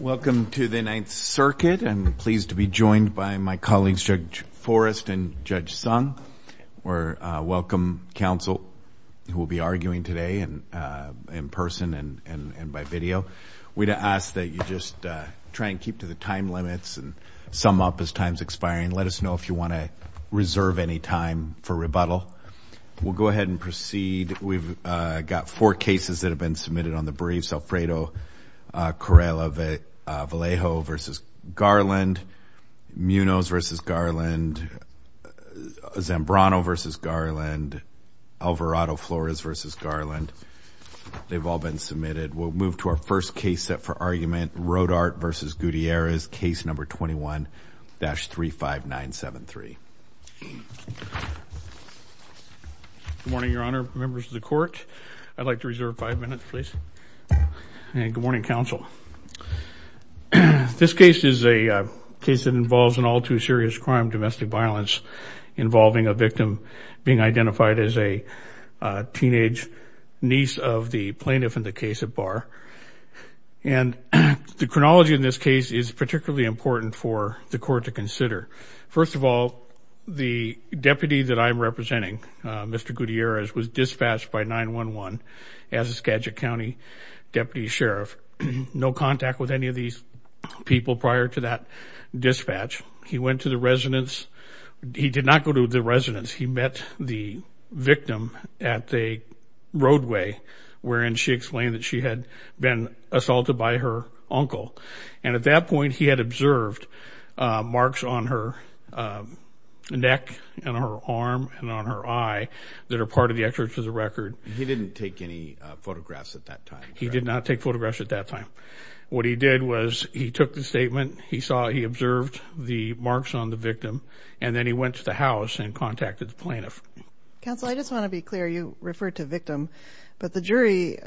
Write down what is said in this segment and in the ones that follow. Welcome to the Ninth Circuit. I'm pleased to be joined by my colleagues Judge Forrest and Judge Sung. We welcome counsel who will be arguing today in person and by video. We'd ask that you just try and keep to the time limits and sum up as time's expiring. Let us know if you want to reserve any time for rebuttal. We'll go ahead and proceed. We've got four cases that have been submitted on the briefs. Alfredo, Correla-Vallejo v. Garland, Munoz v. Garland, Zambrano v. Garland, Alvarado-Flores v. Garland. They've all been submitted. We'll start with Rodarte v. Gutierrez, case number 21-35973. Good morning, Your Honor, members of the court. I'd like to reserve five minutes, please. Good morning, counsel. This case is a case that involves an all-too-serious crime, domestic violence, involving a victim being particularly important for the court to consider. First of all, the deputy that I'm representing, Mr. Gutierrez, was dispatched by 911 as a Skagit County deputy sheriff. No contact with any of these people prior to that dispatch. He went to the residence. He did not go to the residence. He met the victim at the roadway wherein she explained that she had been assaulted by her uncle. And at that point, he had observed marks on her neck and her arm and on her eye that are part of the excerpts of the record. He didn't take any photographs at that time? He did not take photographs at that time. What he did was he took the statement, he saw, he observed the marks on the victim, and then he went to the house and contacted the plaintiff. Counsel, I just want to be clear, you referred to victim, but the jury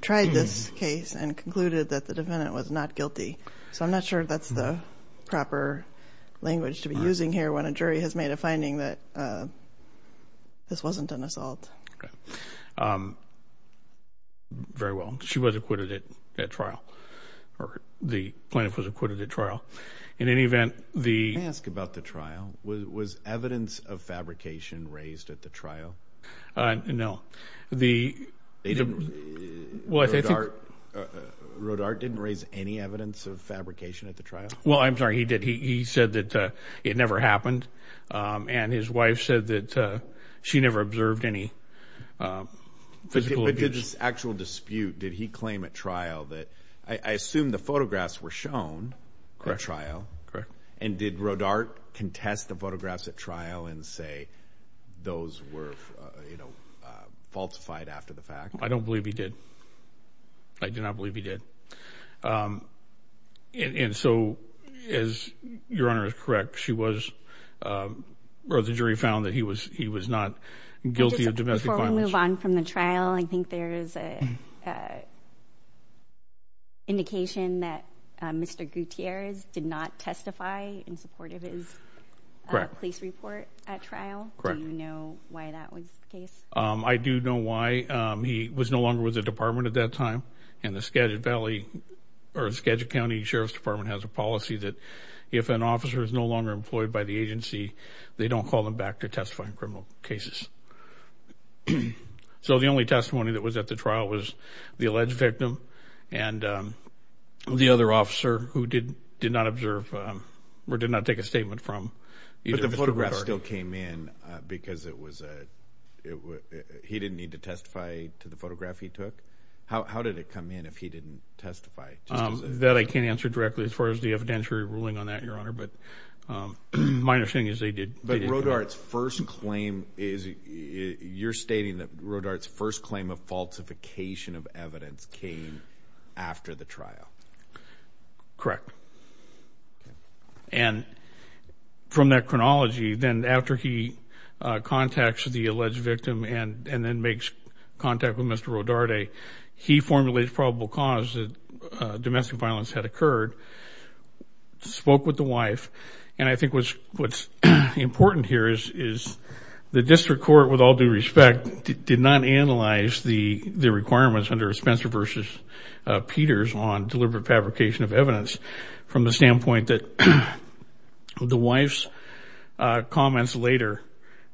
tried this case and concluded that the defendant was not guilty. So I'm not sure that's the proper language to be using here when a jury has made a finding that this wasn't an assault. Very well. She was acquitted at trial, or the plaintiff was acquitted at trial. In any event, the... Can I ask about the trial? Was evidence of fabrication raised at the trial? No. The... Rodarte didn't raise any evidence of fabrication at the trial? Well, I'm sorry, he did. He said that it never happened, and his wife said that she never observed any physical abuse. But did this actual dispute, did he claim at trial that... I assume the photographs were shown at trial. Correct. And did Rodarte contest the photographs at trial and say those were, you know, falsified after the fact? I don't believe he did. I do not believe he did. And so, as your Honor is correct, she was... Or the jury found that he was not guilty of domestic violence. Can we move on from the trial? I think there is an indication that Mr. Gutierrez did not testify in support of his police report at trial. Do you know why that was the case? I do know why. He was no longer with the department at that time, and the Skagit Valley, or Skagit County Sheriff's Department has a policy that if an officer is no longer employed by the agency, they don't call him back to testify in criminal cases. So the only testimony that was at the trial was the alleged victim, and the other officer who did not observe, or did not take a statement from... But the photographs still came in because it was a... He didn't need to testify to the photograph he took? How did it come in if he didn't testify? That I can't answer directly as far as the claim is... You're stating that Rodarte's first claim of falsification of evidence came after the trial. Correct. And from that chronology, then after he contacts the alleged victim and then makes contact with Mr. Rodarte, he formulates probable cause that domestic violence had occurred, spoke with the wife, and I think what's important here is the district court, with all due respect, did not analyze the requirements under Spencer v. Peters on deliberate fabrication of evidence from the standpoint that the wife's comments later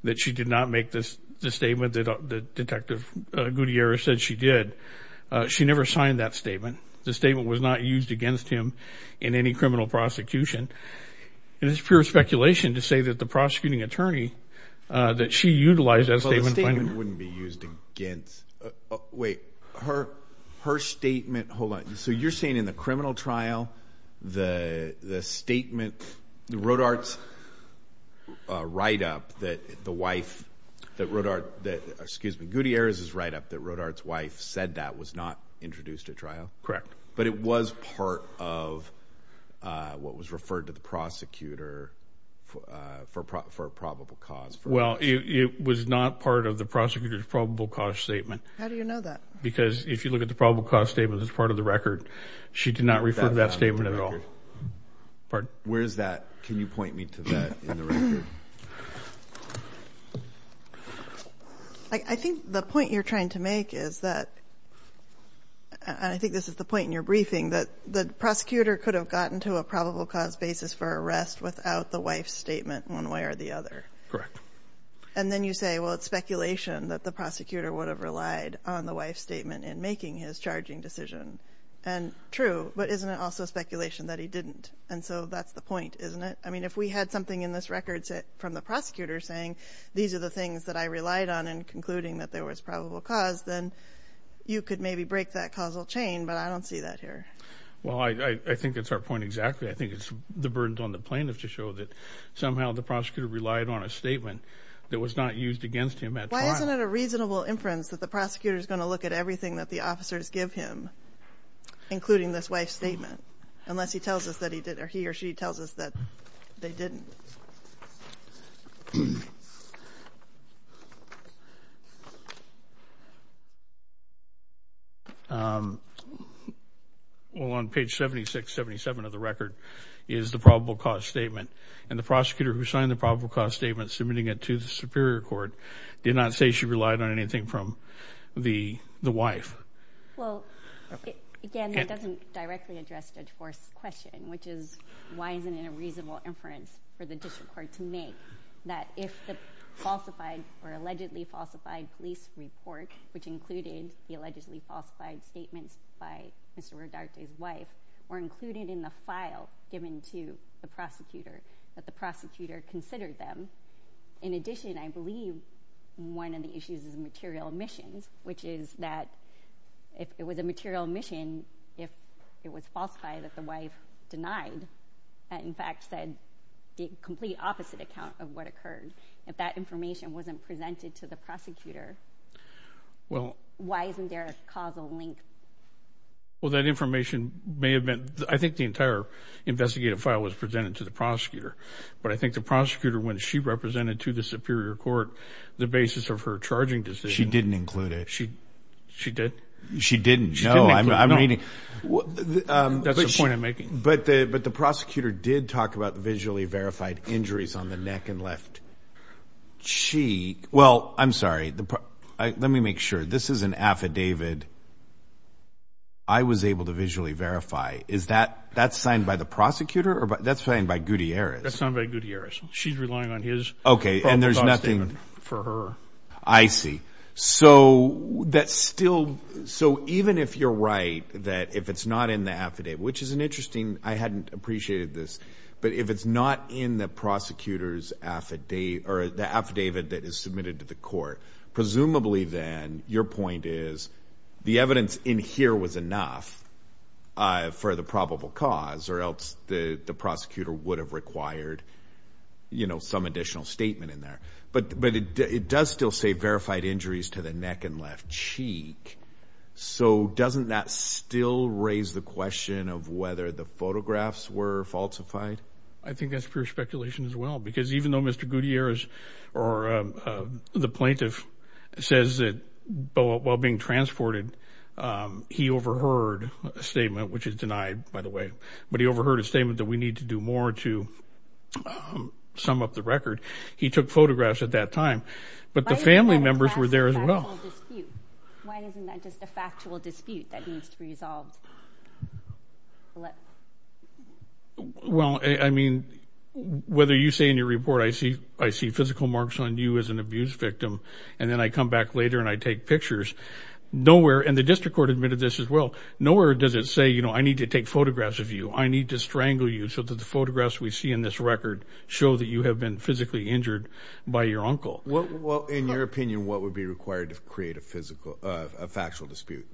that she did not make this statement, that Detective Gutierrez said she did, she never signed that statement. The statement was not used against him in any criminal prosecution. It's pure speculation to say that the prosecuting attorney that she utilized that statement... The statement wouldn't be used against... Wait, her statement... Hold on. So you're saying in the criminal trial, the statement, Rodarte's write-up that the wife, that Rodarte, excuse me, Gutierrez's write-up, that Rodarte's wife said that was not introduced at trial? Correct. But it was part of what was referred to the prosecutor for a probable cause? Well, it was not part of the prosecutor's probable cause statement. How do you know that? Because if you look at the probable cause statement that's part of the record, she did not refer to that statement at all. Where is that? Can you point me to that in the record? I think the point you're briefing that the prosecutor could have gotten to a probable cause basis for arrest without the wife's statement one way or the other. Correct. And then you say, well, it's speculation that the prosecutor would have relied on the wife's statement in making his charging decision. And true, but isn't it also speculation that he didn't? And so that's the point, isn't it? I mean, if we had something in this record from the prosecutor saying, these are the things that I relied on in concluding that there was probable cause, then you could maybe break that causal chain, but I don't see that here. Well, I think it's our point exactly. I think it's the burdens on the plaintiff to show that somehow the prosecutor relied on a statement that was not used against him at all. Why isn't it a reasonable inference that the prosecutor is going to look at everything that the officers give him, including this wife's statement, unless he tells us that he did, or he or she tells us that they didn't? Well, on page 7677 of the record is the probable cause statement, and the prosecutor who signed the probable cause statement submitting it to the Superior Court did not say she relied on anything from the wife. Well, again, that doesn't directly address Judge Forrest's question, which is why isn't it a reasonable inference for the district court to make that if the falsified or allegedly falsified police report, which included the allegedly falsified statements by Mr. Rodarte's wife, were included in the file given to the prosecutor, that the prosecutor considered them. In addition, I believe one of the issues is material omissions, which is that if it was a material omission, if it was falsified that the wife denied, in fact said the complete opposite account of what occurred, if that information wasn't presented to the prosecutor, why isn't there a causal link? Well, that information may have been, I think the entire investigative file was presented to the prosecutor, but I think the She did? She didn't. No, I'm reading. That's a point I'm making. But the prosecutor did talk about visually verified injuries on the neck and left cheek. Well, I'm sorry. Let me make sure. This is an affidavit I was able to visually verify. Is that signed by the prosecutor or that's signed by Gutierrez? That's signed by Gutierrez. She's relying on his probable cause statement for her. I see. So that's still. So even if you're right, that if it's not in the affidavit, which is an interesting, I hadn't appreciated this, but if it's not in the prosecutor's affidavit or the affidavit that is submitted to the court, presumably then your point is the evidence in here was enough for the probable cause or else the prosecutor would have required, you know, some does still say verified injuries to the neck and left cheek. So doesn't that still raise the question of whether the photographs were falsified? I think that's pure speculation as well, because even though Mr Gutierrez or the plaintiff says that while being transported, he overheard a statement which is denied, by the way, but he overheard a statement that we need to do more to sum up the record. He took photographs at that time, but the family members were there as well. Why isn't that just a factual dispute that needs to be resolved? Well, I mean, whether you say in your report, I see, I see physical marks on you as an abuse victim, and then I come back later and I take pictures. Nowhere, and the district court admitted this as well, nowhere does it say, you know, I need to take photographs of you. I need to strangle you so that the photographs we see in this record show that you have been physically injured by your uncle. Well, in your opinion, what would be required to create a physical, a factual dispute?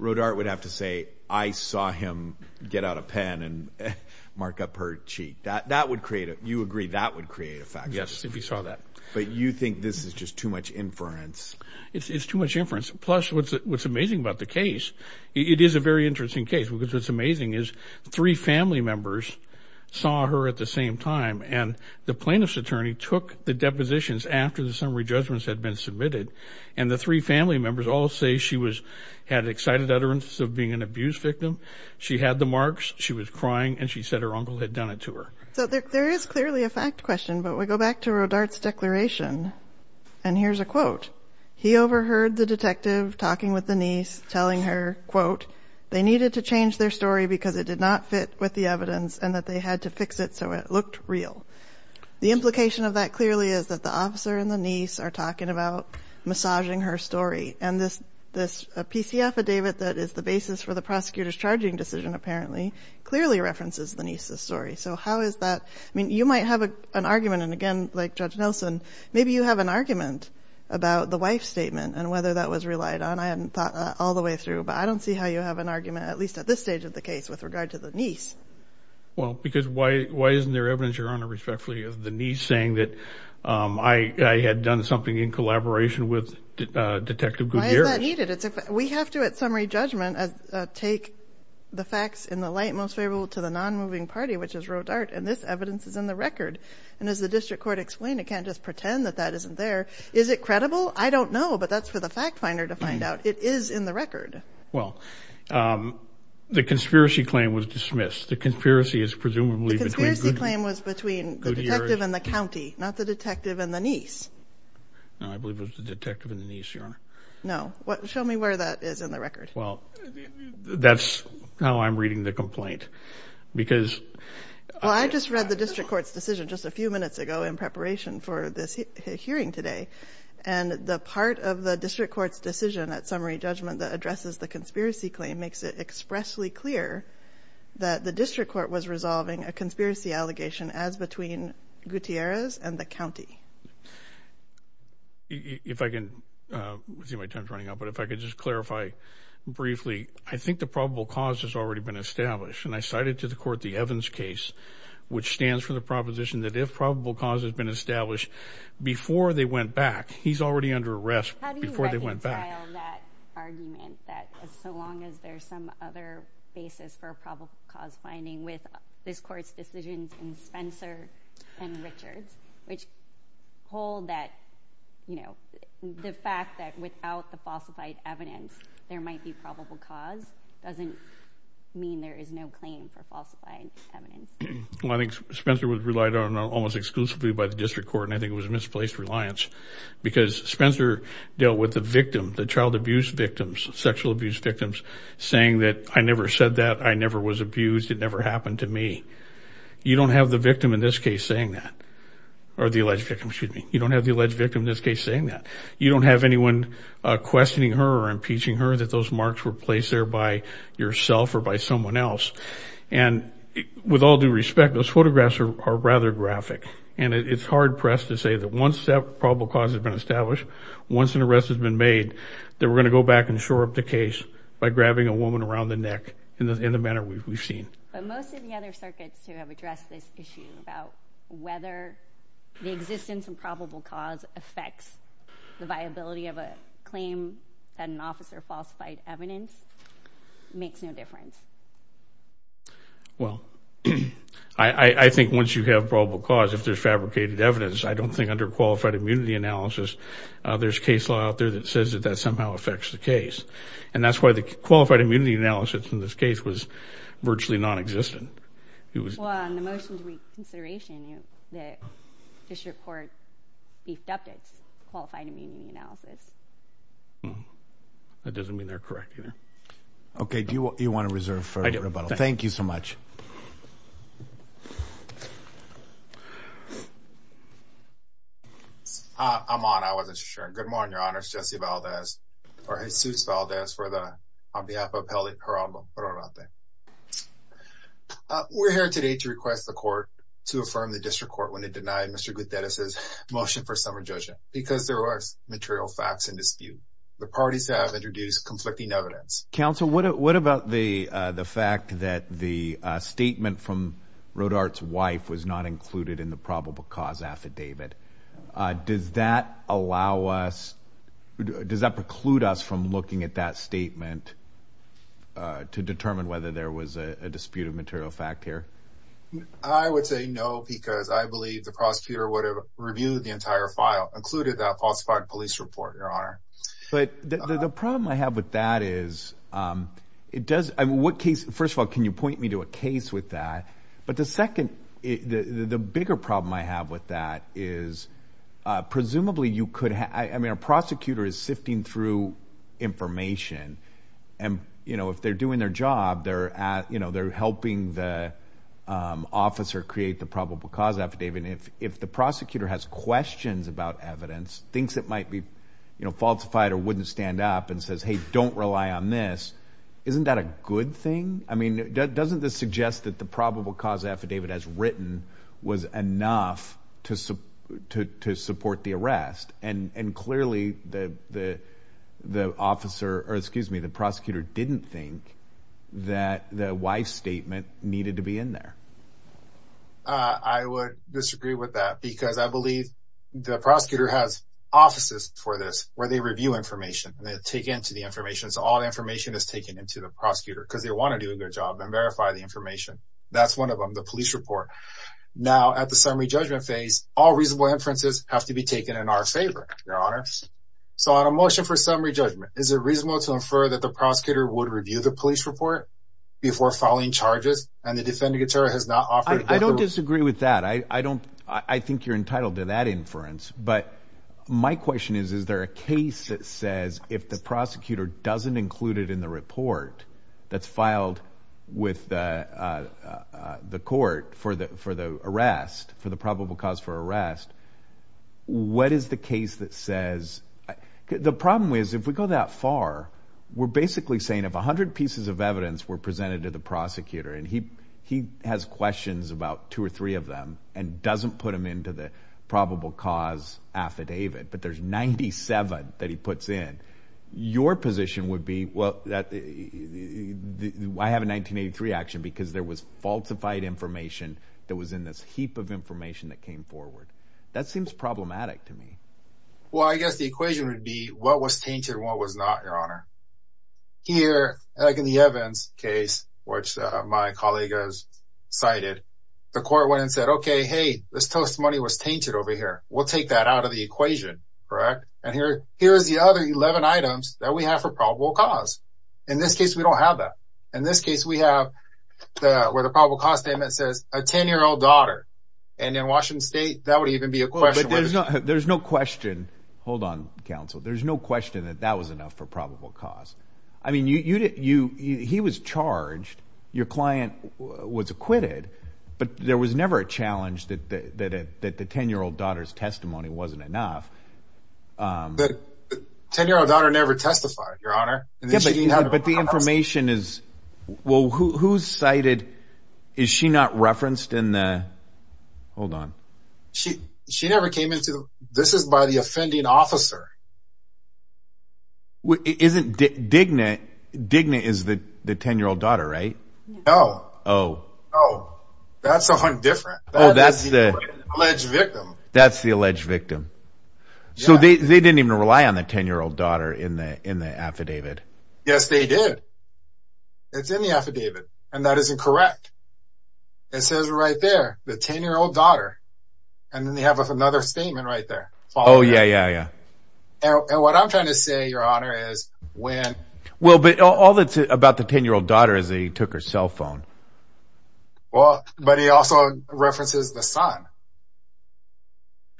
Rodarte would have to say, I saw him get out a pen and mark up her cheek. That would create, you agree, that would create a factual dispute. Yes, if you saw that. But you think this is just too much inference? It's too much inference, plus what's amazing about the case, it is a very interesting case, because what's amazing is three family members saw her at the same time, and the plaintiff's attorney took the depositions after the summary judgments had been submitted, and the three family members all say she was, had excited utterances of being an abuse victim. She had the marks, she was crying, and she said her uncle had done it to her. So there is clearly a fact question, but we go back to Rodarte's declaration, and here's a quote. He overheard the detective talking with the niece, telling her, quote, they needed to and that they had to fix it so it looked real. The implication of that clearly is that the officer and the niece are talking about massaging her story, and this, this PC affidavit that is the basis for the prosecutor's charging decision, apparently, clearly references the niece's story. So how is that, I mean, you might have an argument, and again, like Judge Nelson, maybe you have an argument about the wife statement, and whether that was relied on. I hadn't thought all the way through, but I don't see how you have an argument, at least at this stage of the case, with regard to the niece. Well, because why, why isn't there evidence, Your Honor, respectfully, of the niece saying that I had done something in collaboration with Detective Guglielmo? Why is that needed? We have to, at summary judgment, take the facts in the light most favorable to the non-moving party, which is Rodarte, and this evidence is in the record. And as the district court explained, it can't just pretend that that isn't there. Is it credible? I don't know, but that's for the fact finder to find out. It is in the record. Well, the conspiracy claim was dismissed. The conspiracy is presumably between the detective and the county, not the detective and the niece. No, I believe it was the detective and the niece, Your Honor. No, what, show me where that is in the record. Well, that's how I'm reading the complaint, because... Well, I just read the district court's decision just a few minutes ago in preparation for this hearing today, and the part of the district court's decision at summary judgment that addresses the conspiracy claim makes it expressly clear that the district court was resolving a conspiracy allegation as between Gutierrez and the county. If I can, I see my time's running out, but if I could just clarify briefly, I think the probable cause has already been established, and I cited to the court the Evans case, which stands for the proposition that if probable cause has been established before they went back, he's already under arrest before they went back. How do you reconcile that argument that so long as there's some other basis for a probable cause finding with this court's decisions in Spencer and Richards, which hold that, you know, the fact that without the falsified evidence, there might be probable cause doesn't mean there is no claim for falsified evidence. Well, I think Spencer was relied on almost exclusively by the district court, and I think it was misplaced reliance, because Spencer dealt with the victim, the child abuse victims, sexual abuse victims, saying that, I never said that, I never was abused, it never happened to me. You don't have the victim in this case saying that, or the alleged victim, excuse me. You don't have the alleged victim in this case saying that. You don't have anyone questioning her or impeaching her that those marks were placed there by yourself or by someone else. And with all due respect, those photographs are rather graphic, and it's hard pressed to say that once that probable cause has been established, once an arrest has been made, that we're going to go back and shore up the case by grabbing a woman around the neck in the manner we've seen. But most of the other circuits who have addressed this issue about whether the existence of probable cause affects the viability of a claim that an officer falsified evidence makes no difference. Well, I think once you have probable cause, if there's fabricated evidence, I don't think under qualified immunity analysis, there's case law out there that says that that somehow affects the case. And that's why the qualified immunity analysis in this case was virtually nonexistent. Well, on the motion to make consideration, the district court beefed up its qualified immunity analysis. That doesn't mean they're correct either. Okay, do you want to reserve for a rebuttal? Thank you so much. I'm on I wasn't sure. Good morning, Your Honor. Jesse Valdez, or Jesus Valdez for the on behalf of Peli. We're here today to request the court to affirm the district court when it denied Mr. Gutierrez's motion for summer judging because there are material facts in dispute. The parties have introduced conflicting evidence. Counsel, what about the the fact that the statement from road arts wife was not included in the probable cause affidavit? Does that allow us? Does that preclude us from looking at that statement to determine whether there was a dispute of material fact here? I would say no, because I believe the prosecutor would have reviewed the entire file, included that falsified police report. Your Honor. But the problem I have with that is it does. What case? First of all, can you point me to a case with that? But the second, the bigger problem I have with that is presumably you could. I mean, a prosecutor is sifting through information and, you know, if they're doing their job there, you know, they're helping the officer create the probable cause affidavit. And if if the prosecutor has questions about evidence, thinks it might be falsified or wouldn't stand up and says, hey, don't rely on this. Isn't that a good thing? I mean, doesn't this suggest that the probable cause affidavit has written was enough to to to support the arrest? And clearly the the the officer or excuse me, the prosecutor didn't think that the wife statement needed to be in there. I would disagree with that because I believe the prosecutor has offices for this where they review information and they take into the information. So all the information is taken into the prosecutor because they want to do a good job and verify the information. That's one of them. The police report. Now, at the summary judgment phase, all reasonable inferences have to be taken in our favor. Your Honor. So on a motion for summary judgment, is it reasonable to infer that the prosecutor would review the police report before filing charges? And the defendant has not offered. I don't disagree with that. I don't I think you're entitled to that inference. But my question is, is there a case that says if the prosecutor doesn't include it in the report that's filed with the court for the for the arrest, for the probable cause for arrest? What is the case that says the problem is if we go that far, we're basically saying if 100 pieces of evidence were presented to the prosecutor and he he has questions about two or three of them and doesn't put him into the probable cause affidavit. But there's 97 that he puts in. Your position would be, well, that I have a 1983 action because there was falsified information that was in this heap of information that came forward. That seems problematic to me. Well, I guess the equation would be what was tainted and what was not. Your Honor. Here, like in the Evans case, which my colleague has cited, the court went and said, OK, hey, this testimony was tainted over here. We'll take that out of the equation. Correct. And here here is the other 11 items that we have for probable cause. In this case, we don't have that. In this case, we have the where the probable cause statement says a 10 year old daughter. And in Washington state, that would even be a question. There's no there's no question. Hold on, counsel. There's no question that that was enough for probable cause. I mean, you you you he was charged. Your client was acquitted. But there was never a challenge that that that the 10 year old daughter's testimony wasn't enough. But 10 year old daughter never testified, Your Honor. But the information is. Well, who's cited? Is she not referenced in the. Hold on. She she never came into. This is by the offending officer. Well, isn't Digna Digna is the 10 year old daughter, right? Oh, oh, oh, that's a different. Oh, that's the alleged victim. That's the alleged victim. So they didn't even rely on the 10 year old daughter in the in the affidavit. Yes, they did. It's in the affidavit, and that is incorrect. It says right there, the 10 year old daughter. And then they have another statement right there. Oh, yeah, yeah, yeah. And what I'm trying to say, Your Honor, is when. Well, but all that's about the 10 year old daughter is he took her cell phone. Well, but he also references the son.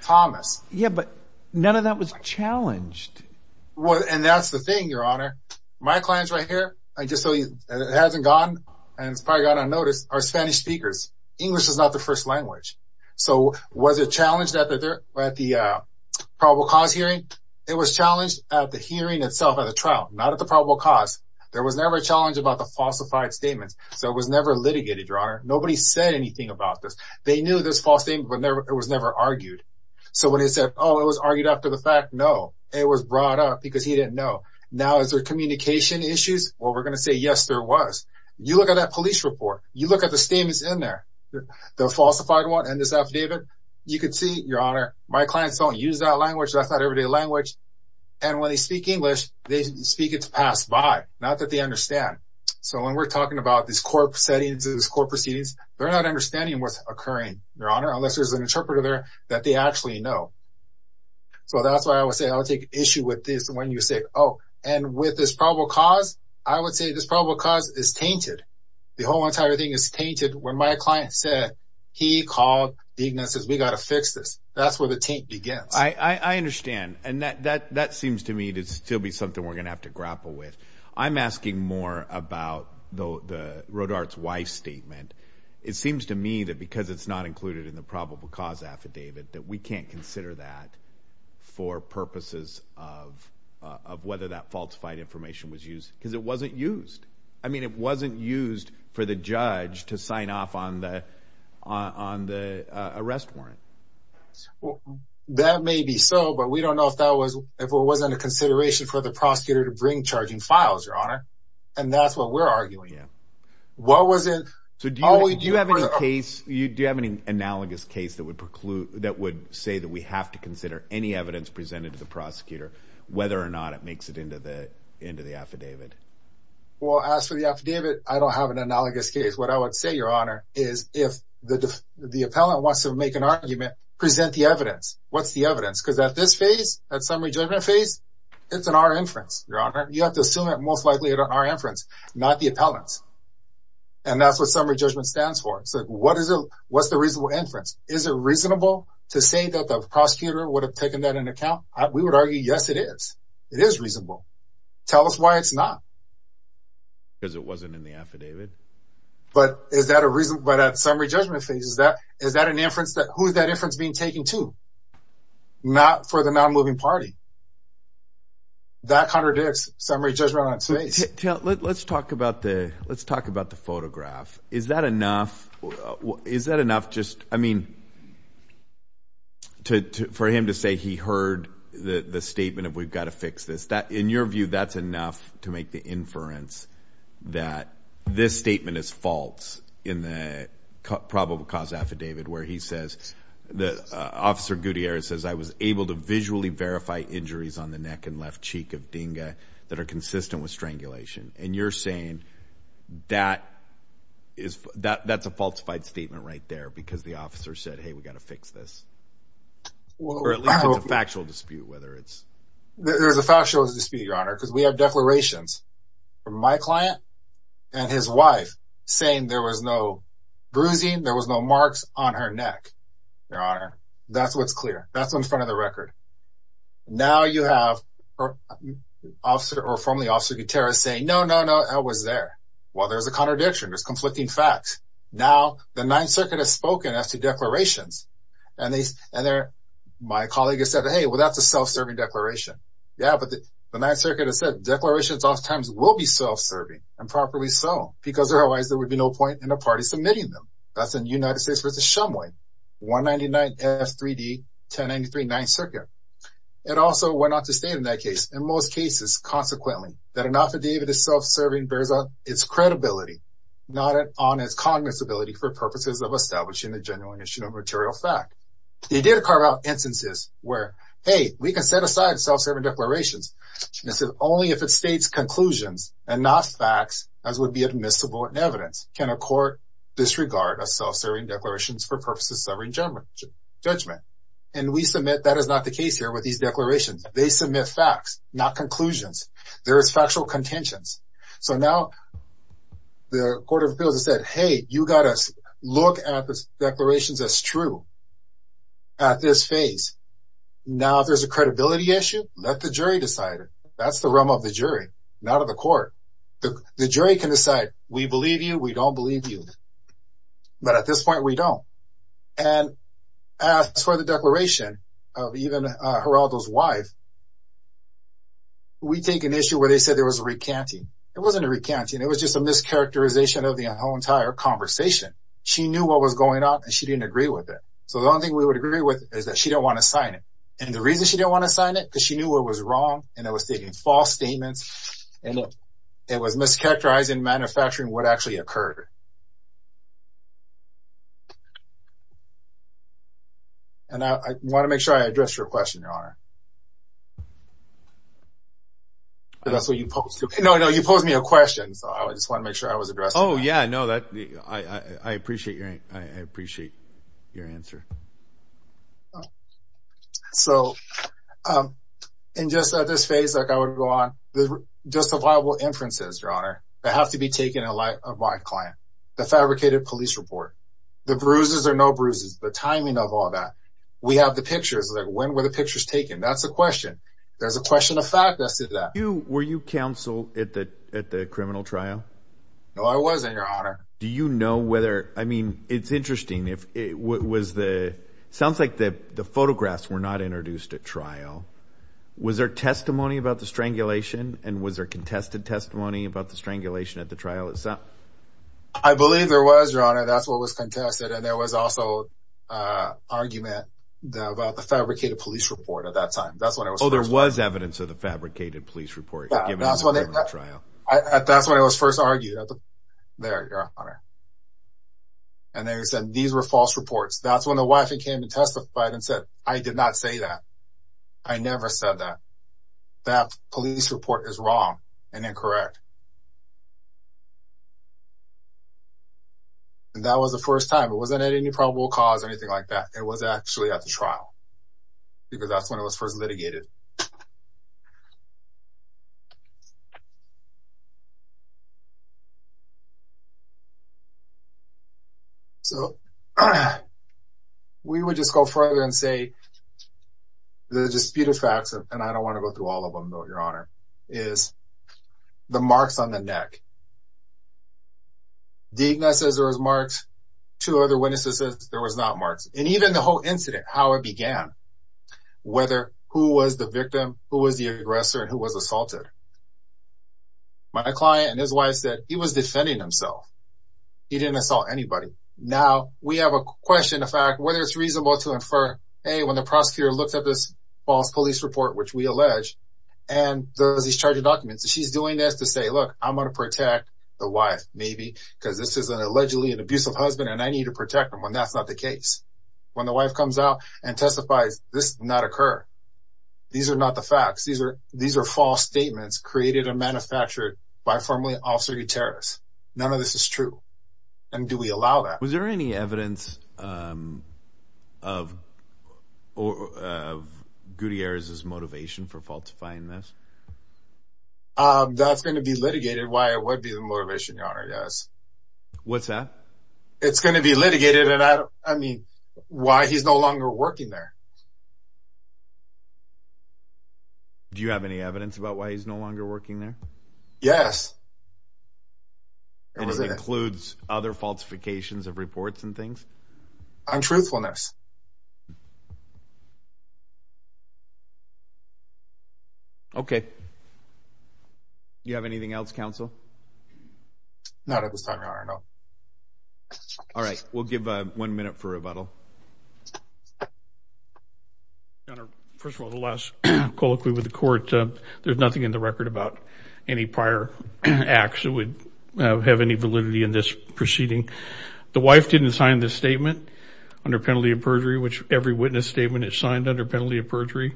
Thomas. Yeah, but none of that was challenged. And that's the thing, Your Honor. My client's right here. I just so he hasn't gone and it's probably got unnoticed. Our Spanish speakers. English is not the first language. So was it challenged that they're at the probable cause hearing? It was challenged at the hearing itself at the trial, not at the probable cause. There was never a challenge about the falsified statements. So it was never litigated, Your Honor. Nobody said anything about this. They knew this false thing, but it was never argued. So when he said, oh, it was argued after the fact. No, it was brought up because he didn't know. Now, is there communication issues? Well, we're going to say, yes, there was. You look at that police report. You look at the statements in there, the falsified one and this affidavit. You could see, Your Honor, my clients don't use that language. That's not everyday language. And when they speak English, they speak. It's passed by. Not that they understand. So when we're talking about this court settings, this court proceedings, they're not understanding what's occurring. Your Honor, unless there's an interpreter there that they actually know. So that's why I would say I would take issue with this when you say, oh, and with this probable cause, I would say this probable cause is tainted. The whole entire thing is tainted. When my client said he called, Dignan says, we got to fix this. That's where the taint begins. I understand. And that seems to me to still be something we're going to have to grapple with. I'm asking more about the Rodart's wife statement. It seems to me that because it's not included in the probable cause affidavit, that we can't consider that for purposes of whether that falsified information was used because it wasn't used. I mean, it wasn't used for the judge to sign off on the on the arrest warrant. Well, that may be so, but we don't know if that was if it wasn't a consideration for the prosecutor to bring charging files, Your Honor. And that's what we're arguing. What was it? So do you have any case you do have any analogous case that would preclude that would say that we have to consider any evidence presented to the prosecutor, whether or not it makes it into the into the affidavit? Well, as for the affidavit, I don't have an analogous case. What I would say, Your Honor, is if the the appellant wants to make an argument, present the evidence. What's the evidence? Because at this phase, at summary judgment phase, it's an R inference. Your Honor, you have to assume that most likely it are inference, not the appellants. And that's what summary judgment stands for. So what is it? What's the reasonable inference? Is it reasonable to say that the prosecutor would have taken that in account? We would argue, yes, it is. It is reasonable. Tell us why it's not. Because it wasn't in the affidavit. But is that a reason? But at summary judgment phase, is that is that an inference that who is that inference being taken to? Not for the non-moving party. That contradicts summary judgment phase. Let's talk about the let's talk about the photograph. Is that enough? Is that enough? Just I mean. To for him to say he heard the statement of we've got to fix this, that in your view, that's enough to make the inference that this statement is false in the probable cause affidavit, where he says the officer Gutierrez says I was able to visually verify injuries on the neck and left cheek of Dinga that are consistent with strangulation. And you're saying that is that that's a falsified statement right there because the officer said, hey, we've got to fix this or a factual dispute, whether it's there's a factual dispute, Your Honor, because we have declarations from my client and his wife saying there was no bruising. There was no marks on her neck, Your Honor. That's what's clear. That's in front of the record. Now you have officer or formerly officer Gutierrez saying, no, no, no, I was there. Well, there's a contradiction. There's conflicting facts. Now the Ninth Circuit has spoken as to declarations. And they and they're my colleague has said, hey, well, that's a self-serving declaration. Yeah, but the Ninth Circuit has said declarations oftentimes will be self-serving and properly so, because otherwise there would be no point in a party submitting them. That's in United States v. Shumway, 199F3D, 1093 Ninth Circuit. It also went on to state in that case, in most cases, consequently, that an affidavit is self-serving based on its credibility, not on its cognizability for purposes of establishing the genuine issue of material fact. They did carve out instances where, hey, we can set aside self-serving declarations. This is only if it states conclusions and not facts, as would be admissible in evidence, can a court disregard a self-serving declarations for purposes of sovereign judgment. And we submit that is not the case here with these declarations. They submit facts, not conclusions. There is factual contentions. So now the Court of Appeals has said, hey, you got to look at the declarations as true at this phase. Now if there's a credibility issue, let the jury decide it. That's the realm of the jury, not of the court. The jury can decide, we believe you, we don't believe you. But at this point, we don't. And as for the declaration of even Geraldo's wife, we take an issue where they said there was a recanting. It wasn't a recanting, it was just a mischaracterization of the whole entire conversation. She knew what was going on and she didn't agree with it. So the only thing we would agree with is that she didn't want to sign it. And the reason she didn't want to sign it, because she knew what was wrong and it was taking false statements, and it was mischaracterizing manufacturing what actually occurred. And I want to make sure I addressed your question, Your Honor. That's what you posed to me. No, no, you posed me a question. So I just want to make sure I was addressed. Oh, yeah, no, I appreciate your answer. So, and just at this phase, like I would go on, the disavowable inferences, Your Honor, that have to be taken in light of my client, the fabricated police report, the bruises or no bruises, the timing of all that. We have the pictures, like when were the pictures taken? That's a question. There's a question of fact that said that. Were you counsel at the criminal trial? No, I wasn't, Your Honor. Do you know whether, I mean, it's interesting, it sounds like the photographs were not introduced at trial. Was there testimony about the strangulation? And was there contested testimony about the strangulation at the trial itself? I believe there was, Your Honor, that's what was contested. And there was also argument about the fabricated police report at that time. Oh, there was evidence of the fabricated police report given at the criminal trial. That's when it was first argued. There, Your Honor. And they said these were false reports. That's when the wife came and testified and said, I did not say that. I never said that. That police report is wrong and incorrect. And that was the first time. It wasn't at any probable cause or anything like that. It was actually at the trial. Because that's when it was first litigated. So, we would just go further and say the disputed facts, and I don't want to go through all of them, though, Your Honor, is the marks on the neck. Digna says there was marks. Two other witnesses said there was not marks. And even the whole incident, how it began, whether who was the victim, who was the aggressor, and who was assaulted. My client and his wife said he was defending himself. He didn't assault anybody. Now, we have a question, in fact, whether it's reasonable to infer, hey, when the prosecutor looked at this false police report, which we allege, and there was these charging documents. She's doing this to say, look, I'm going to protect the wife, maybe, because this is an allegedly abusive husband, and I need to protect him when that's not the case. When the wife comes out and testifies, this did not occur. These are not the facts. These are false statements created and manufactured by formerly officery terrorists. None of this is true. And do we allow that? Was there any evidence of Gutierrez's motivation for falsifying this? That's going to be litigated, why it would be the motivation, Your Honor, yes. What's that? It's going to be litigated. I mean, why he's no longer working there. Do you have any evidence about why he's no longer working there? Yes. It includes other falsifications of reports and things? Untruthfulness. Okay. Do you have anything else, counsel? Not at this time, Your Honor, no. All right. We'll give one minute for rebuttal. Your Honor, first of all, the last colloquy with the court, there's nothing in the record about any prior acts that would have any validity in this proceeding. The wife didn't sign this statement under penalty of perjury, which every witness statement is signed under penalty of perjury.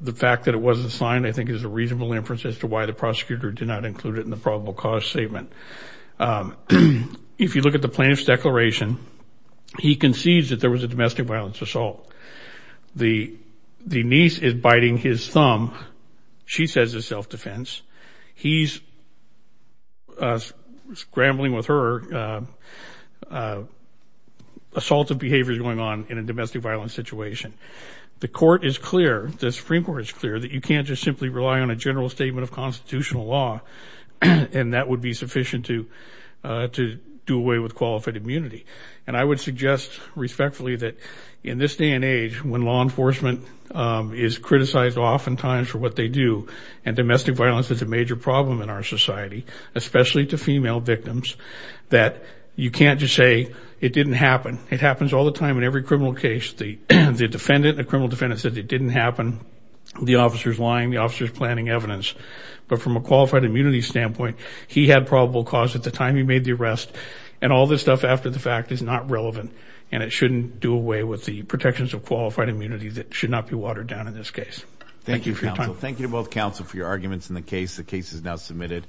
The fact that it wasn't signed, I think, is a reasonable inference as to why the prosecutor did not include it in the probable cause statement. If you look at the plaintiff's declaration, he concedes that there was a domestic violence assault. The niece is biting his thumb. She says it's self-defense. He's scrambling with her. Assaultive behavior is going on in a domestic violence situation. The court is clear, the Supreme Court is clear, that you can't just simply rely on a general statement of constitutional law, and that would be sufficient to do away with qualified immunity. And I would suggest respectfully that in this day and age, when law enforcement is criticized oftentimes for what they do, and domestic violence is a major problem in our society, especially to female victims, that you can't just say it didn't happen. It happens all the time in every criminal case. The defendant, the criminal defendant, says it didn't happen. The officer is lying. The officer is planting evidence. But from a qualified immunity standpoint, he had probable cause at the time he made the arrest, and all this stuff after the fact is not relevant, and it shouldn't do away with the protections of qualified immunity that should not be watered down in this case. Thank you for your time. Thank you to both counsel for your arguments in the case. The case is now submitted.